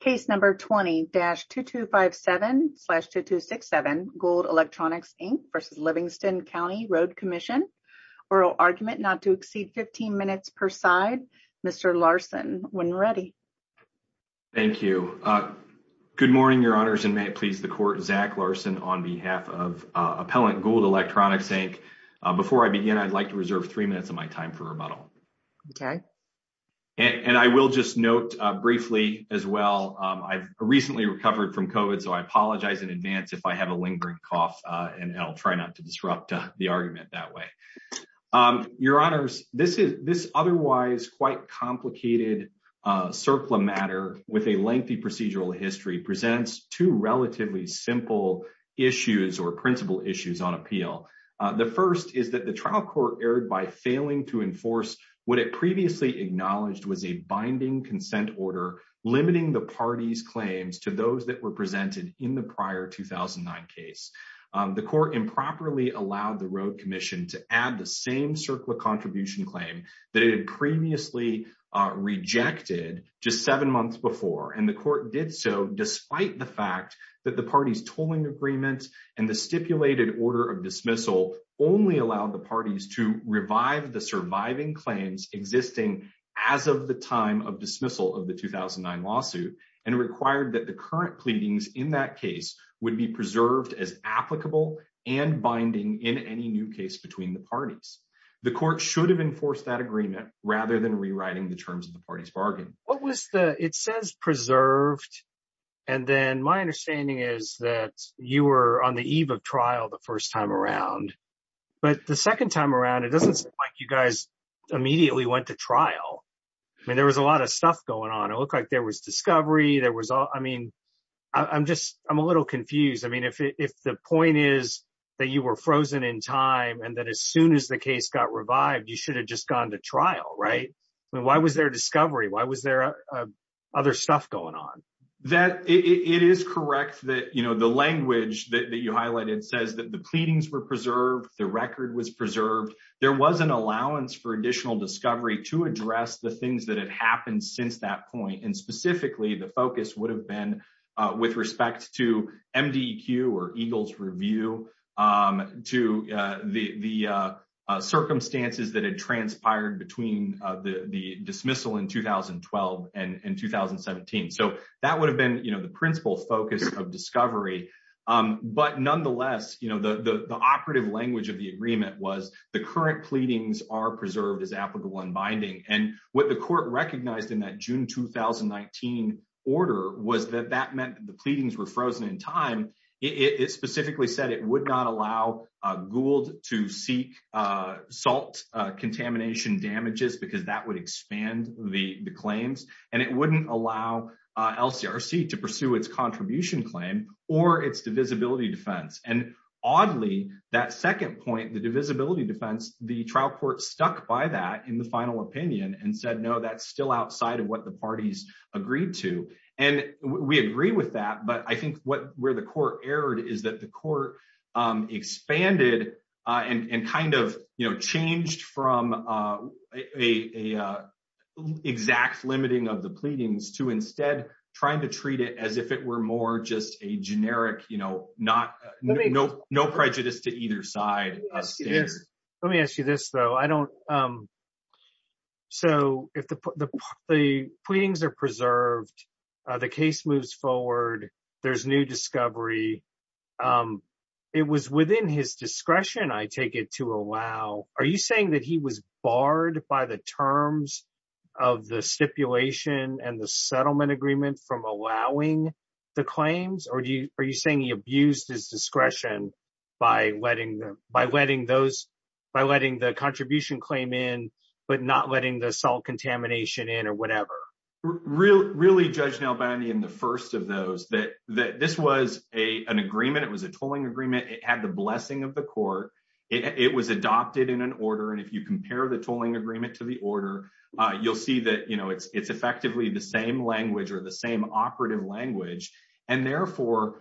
Case number 20-2257-2267 Gould Electronics Inc v. Livingston County Road Commission. Oral argument not to exceed 15 minutes per side. Mr. Larson, when ready. Thank you. Good morning, Your Honors, and may it please the Court, Zach Larson on behalf of appellant Gould Electronics Inc. Before I begin, I'd like to reserve three minutes of my time for I've recently recovered from COVID. So I apologize in advance if I have a lingering cough, and I'll try not to disrupt the argument that way. Your Honors, this is this otherwise quite complicated surplus matter with a lengthy procedural history presents two relatively simple issues or principal issues on appeal. The first is that the trial court erred by failing to enforce what it previously acknowledged was a binding consent order limiting the party's claims to those that were presented in the prior 2009 case. The court improperly allowed the Road Commission to add the same circular contribution claim that it had previously rejected just seven months before, and the court did so despite the fact that the party's tolling agreement and the claims existing as of the time of dismissal of the 2009 lawsuit and required that the current pleadings in that case would be preserved as applicable and binding in any new case between the parties. The court should have enforced that agreement rather than rewriting the terms of the party's bargain. What was the it says preserved and then my understanding is that you were on the eve trial the first time around, but the second time around it doesn't seem like you guys immediately went to trial. I mean, there was a lot of stuff going on. It looked like there was discovery. There was all I mean, I'm just I'm a little confused. I mean, if the point is that you were frozen in time and that as soon as the case got revived, you should have just gone to trial, right? Why was there discovery? Why was there other stuff going on? That it is correct that you know, the language that you highlighted says that the pleadings were preserved. The record was preserved. There was an allowance for additional discovery to address the things that have happened since that point and specifically the focus would have been with respect to MDQ or Eagles review to the circumstances that had transpired between the dismissal in 2012 and 2017. So that would have been, you know, the principal focus of discovery. But nonetheless, you know, the operative language of the agreement was the current pleadings are preserved as applicable and binding and what the court recognized in that June 2019 order was that that meant the pleadings were frozen in time. It specifically said it would not allow Gould to seek salt contamination damages because that would expand the claims and it wouldn't allow LCRC to pursue its contribution claim or its divisibility defense. And oddly, that second point, the divisibility defense, the trial court stuck by that in the final opinion and said, no, that's still outside of what the parties agreed to. And we agree with that. But I think what where the court erred is that the court expanded and kind of changed from a exact limiting of the pleadings to instead trying to treat it as if it were more just a generic, you know, no prejudice to either side. Let me ask you this though. So if the pleadings are preserved, the case moves forward, there's new discovery. It was within his discretion, I take it, to allow. Are you saying that he was barred by the terms of the stipulation and the settlement agreement from allowing the claims? Or are you saying he abused his discretion by letting those, by letting the contribution claim in, but not letting the salt contamination in or whatever? Really, Judge Nalbandi, in the first of those, that this was an agreement. It was a tolling agreement. It had the blessing of the court. It was adopted in an order. And if you compare the tolling agreement to the order, you'll see that, you know, it's effectively the same language or the same operative language. And therefore,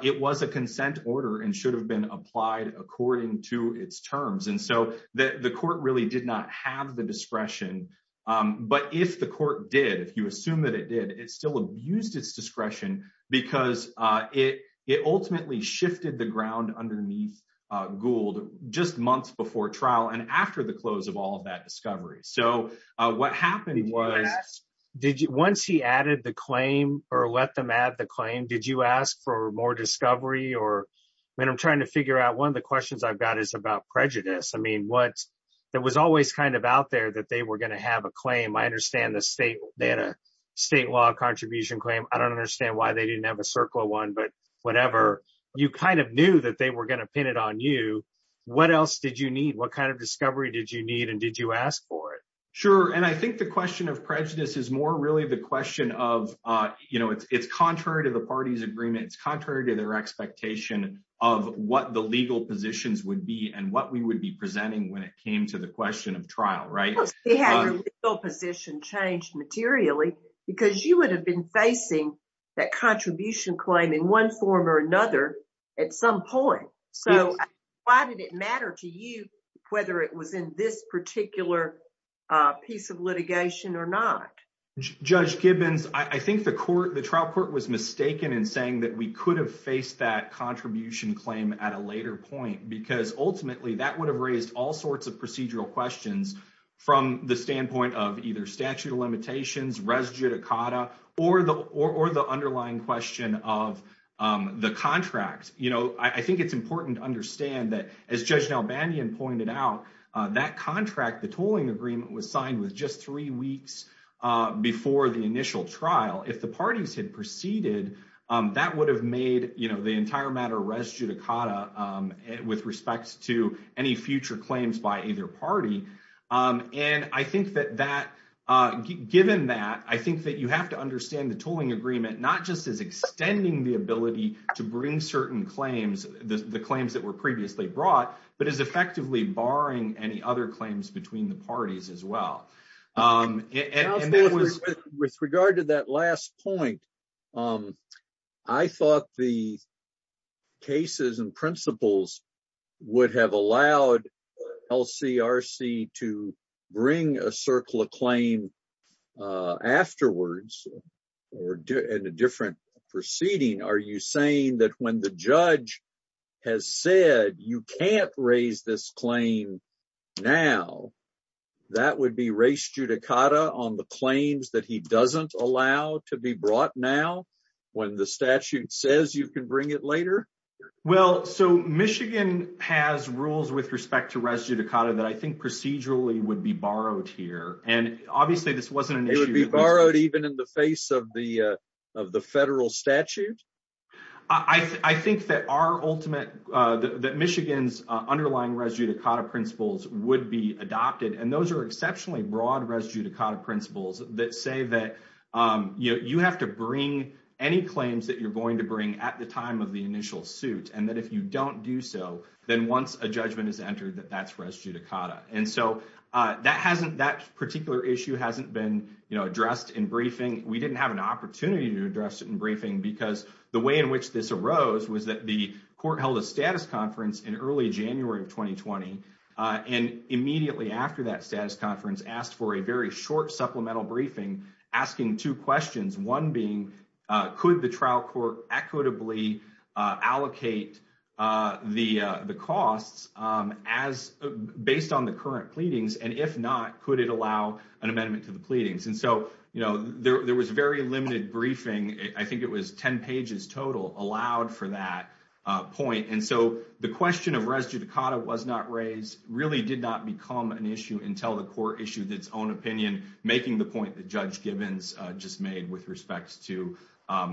it was a consent order and should have been applied according to its terms. And so the court really did not have the discretion. But if the court did, if you assume that it did, it still abused its discretion because it ultimately shifted the ground underneath Gould just months before trial and after the close of all of that discovery. So what happened was... Once he added the claim or let them add the claim, did you ask for more prejudice? I mean, there was always kind of out there that they were going to have a claim. I understand the state had a state law contribution claim. I don't understand why they didn't have a circle one, but whatever. You kind of knew that they were going to pin it on you. What else did you need? What kind of discovery did you need and did you ask for it? Sure. And I think the question of prejudice is more really the question of, you know, it's contrary to the party's agreement. It's contrary to their expectation of what the legal positions would be and what we would be presenting when it came to the question of trial, right? Of course they had their legal position changed materially because you would have been facing that contribution claim in one form or another at some point. So why did it matter to you whether it was in this particular piece of litigation or not? Judge Gibbons, I think the court, the trial court was mistaken in saying that we could have faced that contribution claim at a later point because ultimately that would have raised all sorts of procedural questions from the standpoint of either statute of limitations, res judicata, or the underlying question of the contract. You know, I think it's important to understand that as Judge Nelbanian pointed out, that contract, the tolling agreement was signed with just three weeks before the initial trial. If the parties had proceeded, that would have made, you know, the entire matter res judicata with respect to any future claims by either party. And I think that that, given that, I think that you have to understand the tolling agreement not just as extending the ability to bring certain claims, the claims that were previously brought, but as effectively barring any other claims between the parties. I thought the cases and principles would have allowed LCRC to bring a circular claim afterwards or in a different proceeding. Are you saying that when the judge has said you can't raise this claim now, that would be res judicata on the claims that he doesn't allow to be brought now when the statute says you can bring it later? Well, so Michigan has rules with respect to res judicata that I think procedurally would be borrowed here. And obviously this wasn't an issue. It would be borrowed even in the face of the federal statute? I think that our ultimate, that Michigan's underlying res judicata principles would be adopted. And those are exceptionally broad res judicata principles that say that you have to bring any claims that you're going to bring at the time of the initial suit. And that if you don't do so, then once a judgment is entered, that that's res judicata. And so that hasn't, that particular issue hasn't been addressed in briefing. We didn't have an opportunity to address it in briefing because the way in which this arose was that the court held a status conference in early January of 2020. And immediately after that status conference asked for a very short supplemental briefing, asking two questions. One being, could the trial court equitably allocate the costs based on the current pleadings? And if not, could it allow an amendment to the pleadings? And so there was very limited briefing. I think it was 10 pages total allowed for that point. And so the question of res judicata was not raised, really did not become an issue until the court issued its own opinion, making the point that Judge Gibbons just made with respect to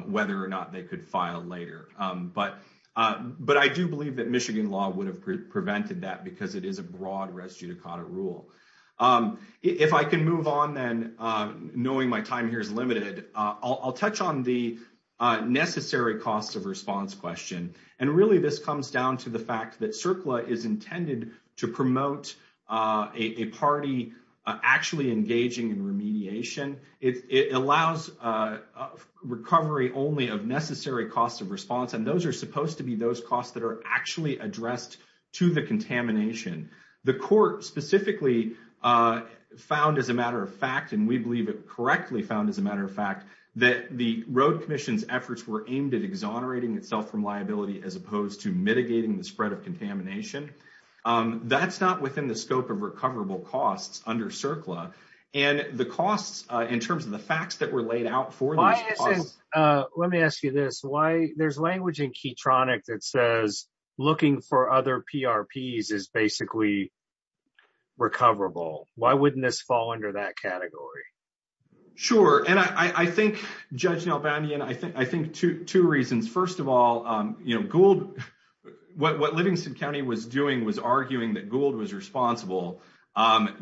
whether or not they could file later. But I do believe that Michigan law would have prevented that because it is a broad res judicata rule. If I can move on then, knowing my time here is limited, I'll touch on the necessary costs of response question. And really this comes down to the fact that CERCLA is intended to promote a party actually engaging in remediation. It allows recovery only of necessary costs of response. And those are supposed to be those costs that are actually addressed to the contamination. The court specifically found as a matter of fact, and we believe it correctly found as a matter of fact, that the road commission's efforts were aimed at exonerating itself from liability as opposed to mitigating the spread of contamination. That's not within the scope of recoverable costs under CERCLA. And the costs in terms of the facts that were laid out for- Let me ask you this, there's language in Keytronic that says looking for other PRPs is basically recoverable. Why wouldn't this fall under that category? Sure. And I think, Judge Nalbandian, I think two reasons. First of all, what Livingston County was doing was arguing that Gould was responsible.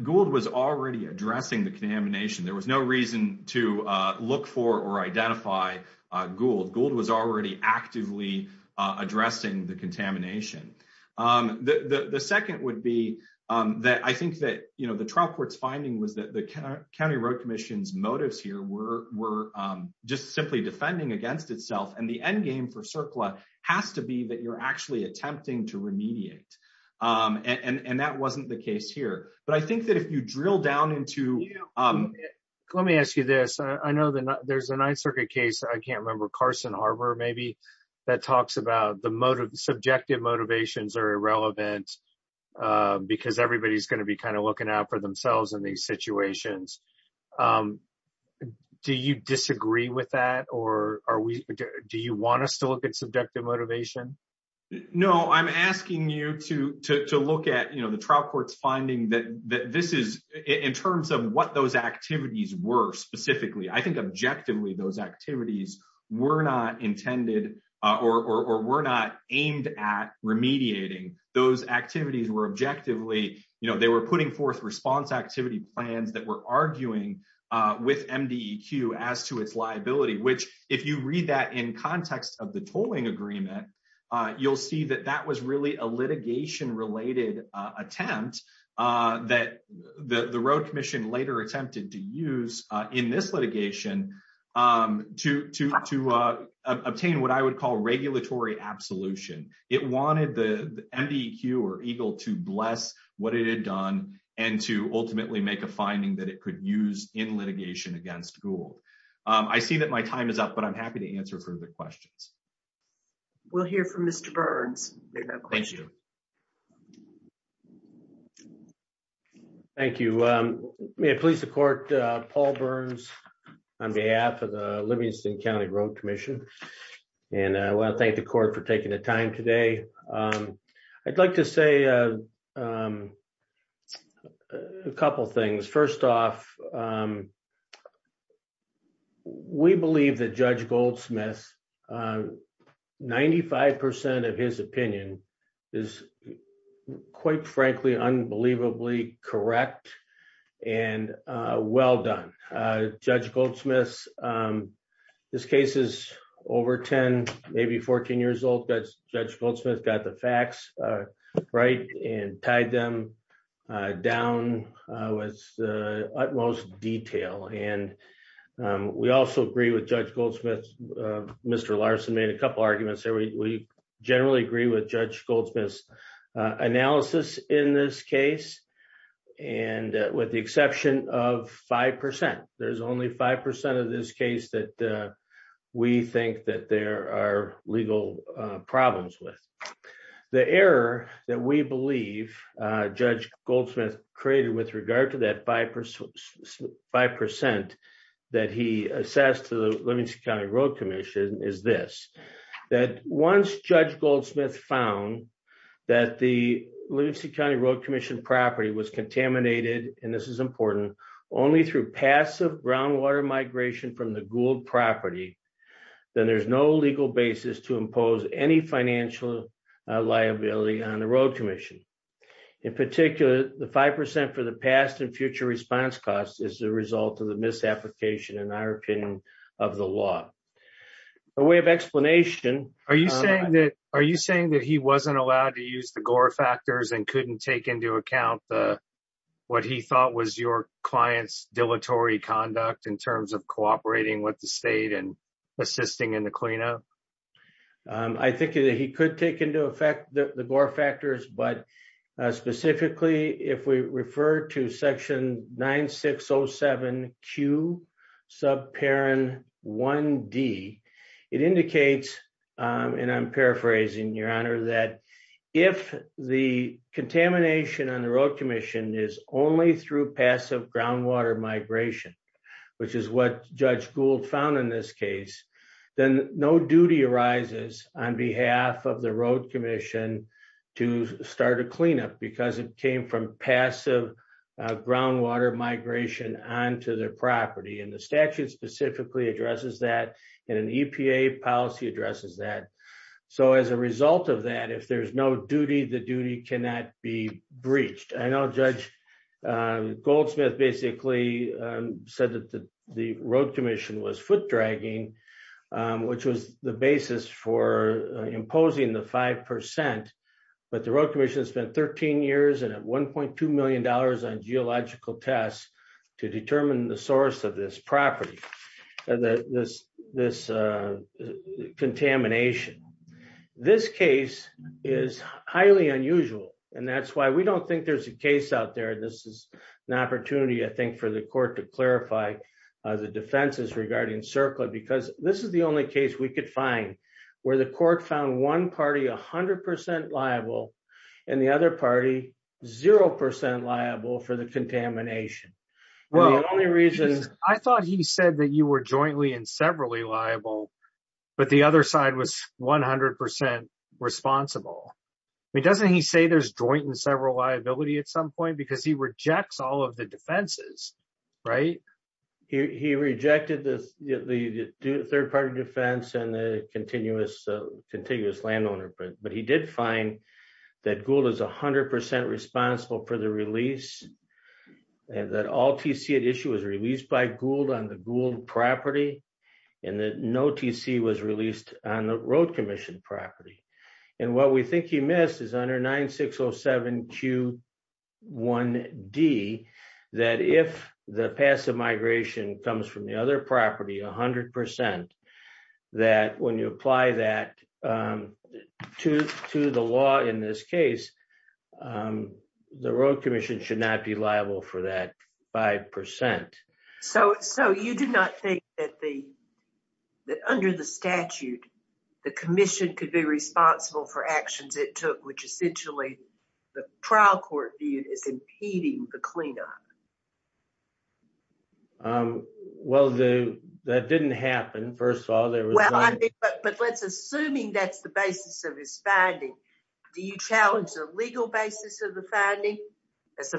Gould was already addressing the contamination. There was no reason to look for or identify Gould. Gould was already actively addressing the contamination. The second would be that I think that the trial court's finding was that the county road commission's motives here were just simply defending against itself. And the end game for CERCLA has to be that you're actually attempting to remediate. And that wasn't the case here. But I think that if you drill down into- I can't remember, Carson Harbor maybe, that talks about the subjective motivations are irrelevant because everybody's going to be looking out for themselves in these situations. Do you disagree with that? Or do you want us to look at subjective motivation? No, I'm asking you to look at the trial court's finding that this is- in terms of what those activities were not intended or were not aimed at remediating. Those activities were objectively- they were putting forth response activity plans that were arguing with MDEQ as to its liability, which if you read that in context of the tolling agreement, you'll see that that was really a litigation-related attempt that the road commission later attempted to use in this litigation to obtain what I would call regulatory absolution. It wanted the MDEQ or EGLE to bless what it had done and to ultimately make a finding that it could use in litigation against Gould. I see that my time is up, but I'm happy to answer further questions. We'll hear from Mr. Burns. Thank you. Thank you. May it please the court, Paul Burns on behalf of the Livingston County Road Commission. And I want to thank the court for taking the time today. I'd like to say a couple things. First off, we believe that Judge Goldsmith, 95% of his opinion is quite frankly, unbelievably correct and well done. Judge Goldsmith, this case is over 10, maybe 14 years old, but Judge Goldsmith got the facts right and tied them down with the utmost detail. And we also agree with Judge Goldsmith. Mr. Larson made a couple arguments there. We generally agree with Judge Goldsmith's analysis in this case. And with the exception of 5%, there's only 5% of this case that we think that there are legal problems with. The error that we believe Judge Goldsmith created with regard to that 5% that he assessed to the Livingston County Road Commission is this, that once Judge Goldsmith found that the Livingston County Road Commission property was contaminated, and this is important, only through passive groundwater migration from the property, then there's no legal basis to impose any financial liability on the Road Commission. In particular, the 5% for the past and future response costs is the result of the misapplication in our opinion of the law. A way of explanation... Are you saying that he wasn't allowed to use the Gore factors and couldn't take into account what he thought was your client's dilatory conduct in terms of cooperating with the state and assisting in the cleanup? I think that he could take into effect the Gore factors, but specifically if we refer to section 9607Q subparen 1D, it indicates, and I'm paraphrasing your honor, that if the contamination on the Road Commission is only through passive groundwater migration, which is what Judge Gould found in this case, then no duty arises on behalf of the Road Commission to start a cleanup because it came from passive groundwater migration onto their property, and the statute specifically addresses that, and an EPA policy addresses that. So as a result of that, if there's no duty, the duty cannot be breached. I know Judge Goldsmith basically said that the Road Commission was foot-dragging, which was the basis for imposing the 5%, but the Road Commission spent 13 years and at $1.2 million on geological tests to determine the source of this property, this contamination. This case is highly unusual, and that's why we don't think there's a case out there. This is an opportunity, I think, for the court to clarify the defenses regarding CERCLA because this is the only case we could find where the court found one party 100% liable and the other party 0% liable for the contamination. The only reason... I thought he said that you were jointly and severally liable, but the other side was 100% responsible. I mean, doesn't he say there's joint and several liability at some point because he rejects all of the defenses, right? He rejected the third party defense and the continuous landowner, but he did find that Gould is 100% responsible for the release and that all TCA issue was released by Gould on the Gould property and that no TC was released on the Road Commission property. And what we think he missed is under 9607Q1D, that if the passive migration comes from the other property 100%, that when you apply that to the law in this case, the Road Commission should not be liable for that by percent. So you do not think that under the statute, the commission could be responsible for actions it took, which essentially the trial court viewed as impeding the cleanup? Well, that didn't happen, first of all. But let's assuming that's the basis of his finding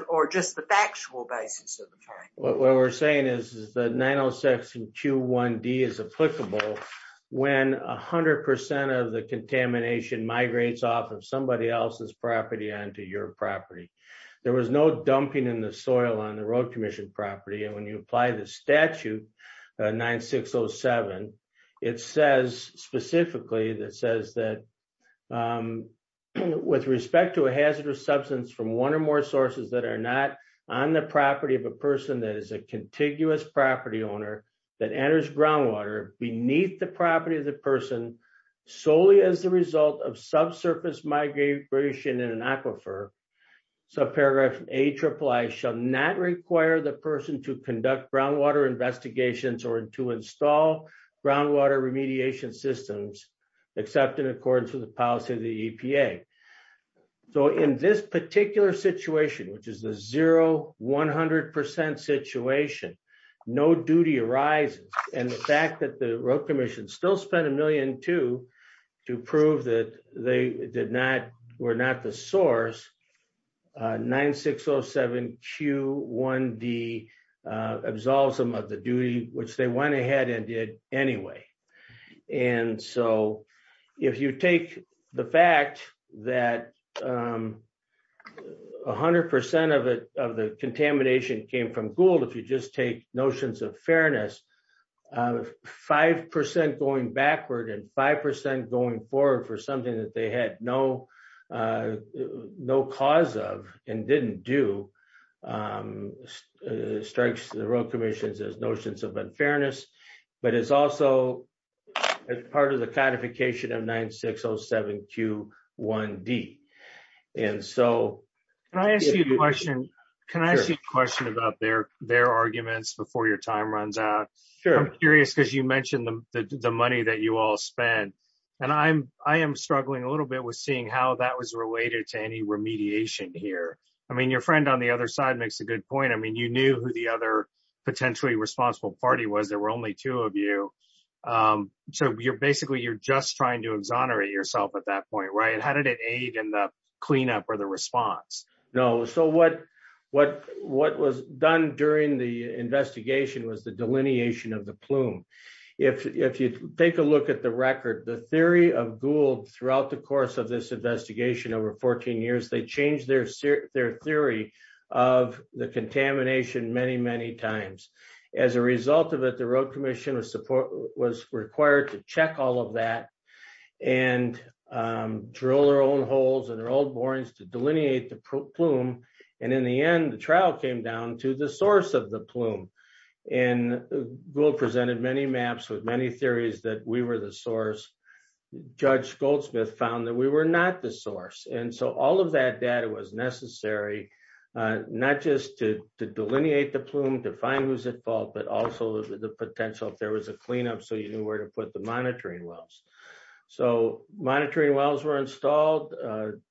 or just the factual basis of the finding. What we're saying is that 90621D is applicable when 100% of the contamination migrates off of somebody else's property onto your property. There was no dumping in the soil on the Road Commission property. And when you apply the statute 9607, it says specifically that says that with respect to a hazardous substance from one or more sources that are not on the property of a person that is a contiguous property owner that enters groundwater beneath the property of the person solely as a result of subsurface migration in an to install groundwater remediation systems, except in accordance with the policy of the EPA. So in this particular situation, which is the zero 100% situation, no duty arises. And the fact that the Road Commission still spent a million to prove that they did not, were not the source, 9607Q1D absolves them of the duty, which they went ahead and did anyway. And so if you take the fact that 100% of the contamination came from Gould, if you just take notions of fairness, a 5% going backward and 5% going forward for something that they had no cause of and didn't do strikes the Road Commission's as notions of unfairness, but it's also part of the codification of 9607Q1D. And so... Can I ask you a question? Can I ask you a question about their arguments before your time runs out? I'm curious, because you mentioned the money that you all spent. And I am struggling a little bit with seeing how that was related to any remediation here. I mean, your friend on the other side makes a good point. I mean, you knew who the other potentially responsible party was. There were only two of you. So basically, you're just trying to exonerate yourself at that point, right? And how did it aid in the cleanup or the response? No. So what was done during the investigation was the delineation of the plume. If you take a look at the record, the theory of Gould throughout the course of this investigation over 14 years, they changed their theory of the contamination many, many times. As a result of it, the Road Commission was required to check all of that and drill their own holes and their plume. And in the end, the trial came down to the source of the plume. And Gould presented many maps with many theories that we were the source. Judge Goldsmith found that we were not the source. And so all of that data was necessary, not just to delineate the plume, to find who's at fault, but also the potential if there was a cleanup, so you knew where to put the monitoring wells. So monitoring wells were installed,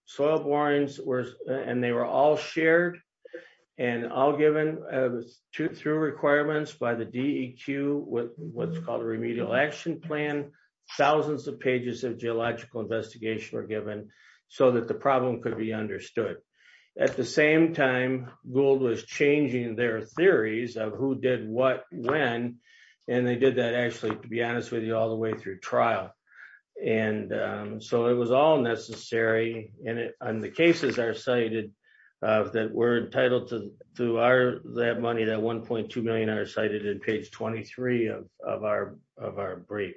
soil borings were, and they were all shared and all given through requirements by the DEQ with what's called a remedial action plan. Thousands of pages of geological investigation were given so that the problem could be understood. At the same time, Gould was changing their theories of who did what, when, and they did that actually, to be honest with you, all the way through trial. And so it was all necessary, and the cases are cited, that we're entitled to that money, that $1.2 million are cited in page 23 of our brief.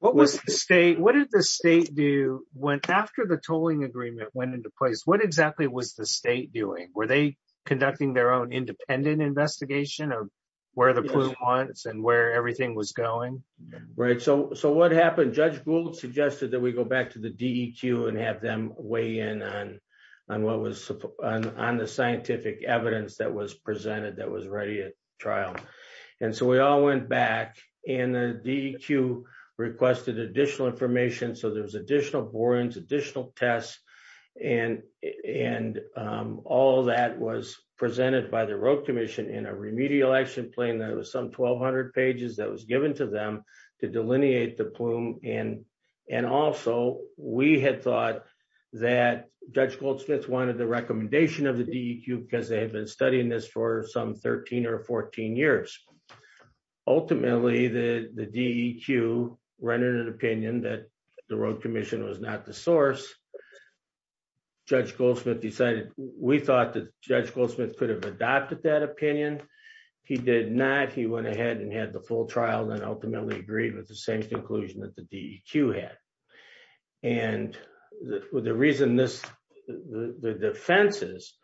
What did the state do after the tolling agreement went into place? What exactly was the state doing? Were they conducting their own independent investigation of where the plume went and where everything was going? Right, so what happened? Judge Gould suggested that we go back to the DEQ and have them weigh in on what was on the scientific evidence that was presented, that was ready at trial. And so we all went back, and the DEQ requested additional information, so there was additional borings, additional tests, and all that was presented by the action plan that was some 1,200 pages that was given to them to delineate the plume. And also, we had thought that Judge Gould-Smith wanted the recommendation of the DEQ because they had been studying this for some 13 or 14 years. Ultimately, the DEQ rendered an opinion that the Road Commission was not the source. Judge Gould-Smith decided, we thought that Judge Gould-Smith could have adopted that opinion. He did not. He went ahead and had the full trial, and ultimately agreed with the same conclusion that the DEQ had. And the reason this, the defenses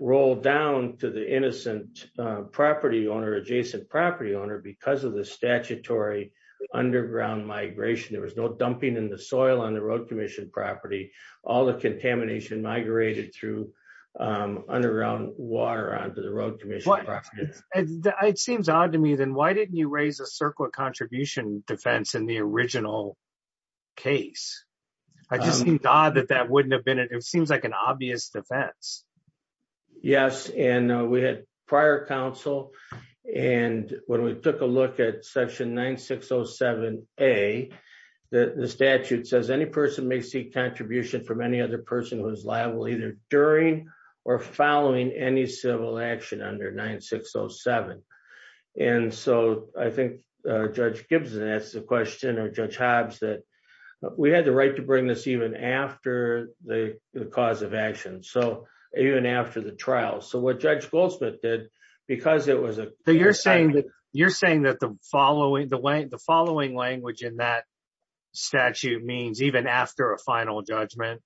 rolled down to the innocent property owner, adjacent property owner, because of the statutory underground migration. There was no dumping in the soil on the Road Commission property. All the contamination migrated through underground water onto the Road Commission property. It seems odd to me, then, why didn't you raise a circle of contribution defense in the original case? I just think it's odd that that wouldn't have been, it seems like an obvious defense. Yes, and we had prior counsel, and when we took a look at section 9607a, the statute says any person may seek contribution from any other person who is liable either during or following any civil action under 9607. And so I think Judge Gibson asked the question, or Judge Hobbs, that we had the right to bring this even after the cause of action, so even after the trial. So what Judge Gould-Smith did, because it was a- You're saying that the following language in that statute means even after a final judgment,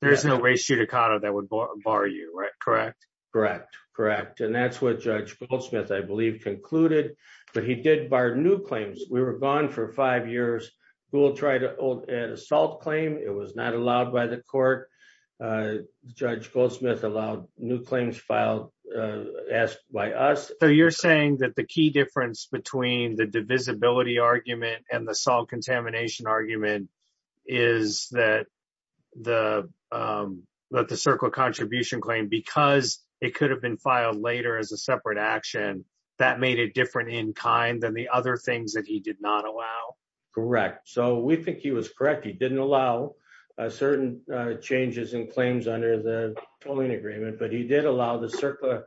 there's no res judicata that would bar you, correct? Correct, correct. And that's what Judge Gould-Smith, I believe, concluded. But he did bar new claims. We were gone for five years. Gould tried an assault claim. It was not allowed by the court. Judge Gould-Smith allowed new claims. So you're saying that the key difference between the divisibility argument and the assault contamination argument is that the CERCLA contribution claim, because it could have been filed later as a separate action, that made it different in kind than the other things that he did not allow? Correct. So we think he was correct. He didn't allow certain changes in claims under the tolling agreement, but he did allow the CERCLA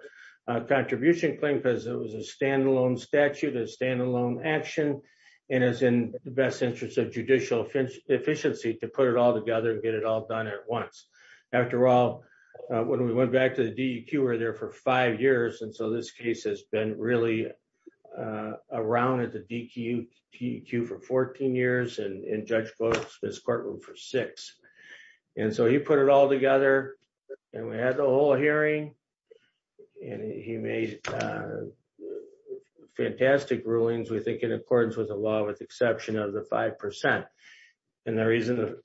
contribution claim because it is a standalone statute, a standalone action, and is in the best interest of judicial efficiency to put it all together and get it all done at once. After all, when we went back to the DEQ, we were there for five years. And so this case has been really around at the DEQ for 14 years and Judge Gould-Smith's courtroom for six. And so he put it all together and we had the whole hearing and he made fantastic rulings, we think, in accordance with the law with exception of the five percent. And the reason,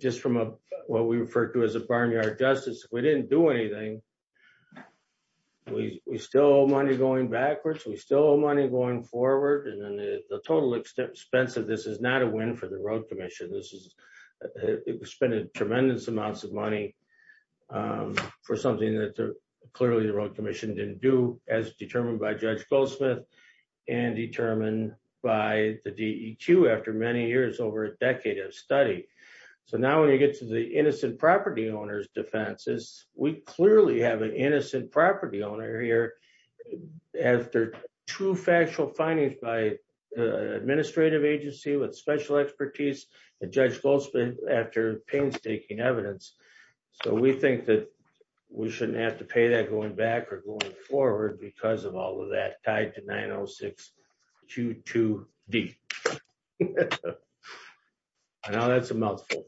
just from what we refer to as a barnyard justice, we didn't do anything. We still owe money going backwards. We still owe money going forward. And then the total expense of this is not a win for the Road Commission. It was spent in tremendous amounts of clearly the Road Commission didn't do as determined by Judge Gould-Smith and determined by the DEQ after many years, over a decade of study. So now when you get to the innocent property owner's defenses, we clearly have an innocent property owner here after two factual findings by an administrative agency with special expertise and Judge Gould-Smith after painstaking evidence. So we think that we shouldn't have to pay that going back or going forward because of all of that tied to 90622D. I know that's a mouthful.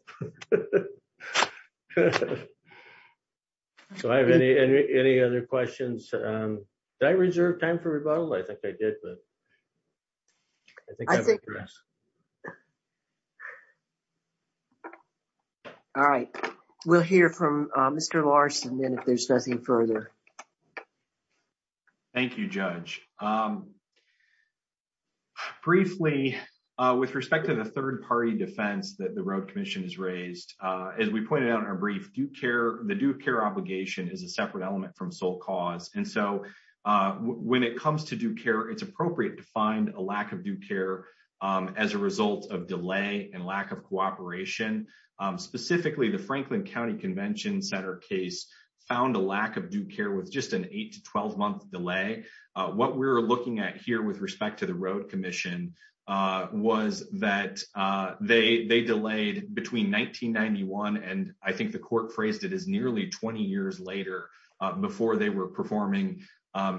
So I have any other questions? Did I reserve time for rebuttal? I think I did. All right. We'll hear from Mr. Larson then if there's nothing further. Thank you, Judge. Briefly, with respect to the third-party defense that the Road Commission has raised, as we pointed out in our brief, the due care obligation is a separate element from sole cause. And so when it comes to due care, it's appropriate to find a lack of due care as a result of delay and lack of cooperation. Specifically, the Franklin County Convention Center case found a lack of due care with just an 8 to 12-month delay. What we're looking at here with respect to the Road Commission was that they delayed between 1991, and I think the court phrased it as nearly 20 years later, before they were performing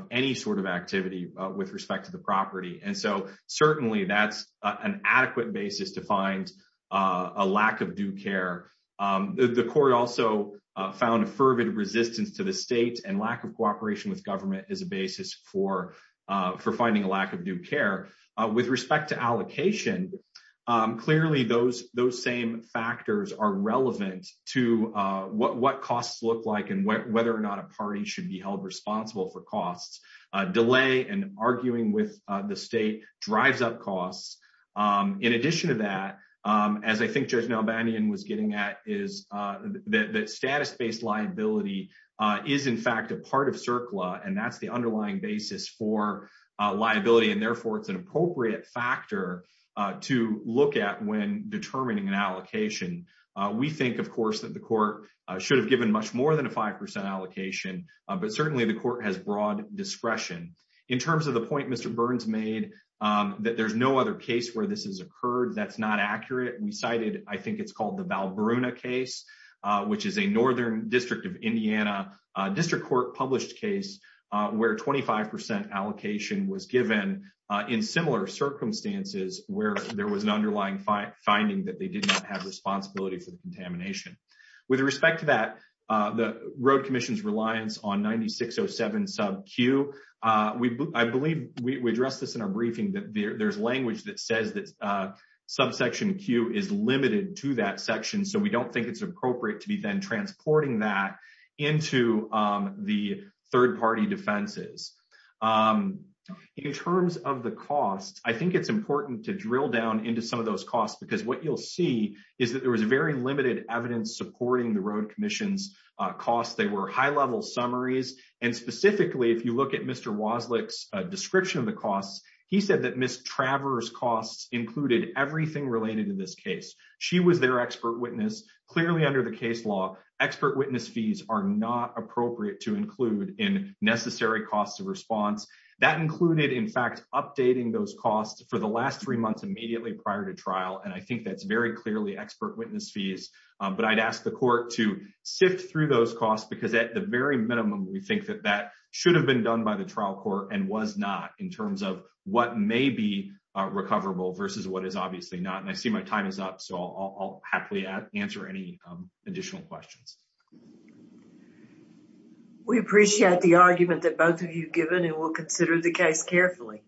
any sort of activity with respect to the property. And so certainly that's an adequate basis to find a lack of due care. The court also found a fervid resistance to the state and lack of cooperation with government as a basis for finding a lack of due care. With respect to allocation, clearly those same factors are relevant to what costs look like and whether or not a party should be held responsible for delay and arguing with the state drives up costs. In addition to that, as I think Judge Nalbanyan was getting at, is that status-based liability is in fact a part of CERCLA, and that's the underlying basis for liability. And therefore, it's an appropriate factor to look at when determining an allocation. We think, of course, that the court should have much more than a 5% allocation, but certainly the court has broad discretion. In terms of the point Mr. Burns made, that there's no other case where this has occurred that's not accurate. We cited, I think it's called the Valbruna case, which is a Northern District of Indiana District Court published case where 25% allocation was given in similar circumstances where there was an underlying finding that they did not have responsibility for the contamination. With respect to that, the Road Commission's reliance on 9607 sub Q, I believe we addressed this in our briefing, that there's language that says that subsection Q is limited to that section, so we don't think it's appropriate to be then transporting that into the third-party defenses. In terms of the costs, I think it's important to drill down into some of those costs because what you'll see is that there was very limited evidence supporting the Road Commission's costs. They were high-level summaries, and specifically, if you look at Mr. Wozlik's description of the costs, he said that Ms. Travers' costs included everything related to this case. She was their expert witness. Clearly, under the case law, expert witness fees are not appropriate to include in necessary costs of response. That included, in fact, updating those costs for the very clearly expert witness fees, but I'd ask the court to sift through those costs because, at the very minimum, we think that that should have been done by the trial court and was not, in terms of what may be recoverable versus what is obviously not. I see my time is up, so I'll happily answer any additional questions. We appreciate the argument that both of you have given, and we'll consider the case carefully.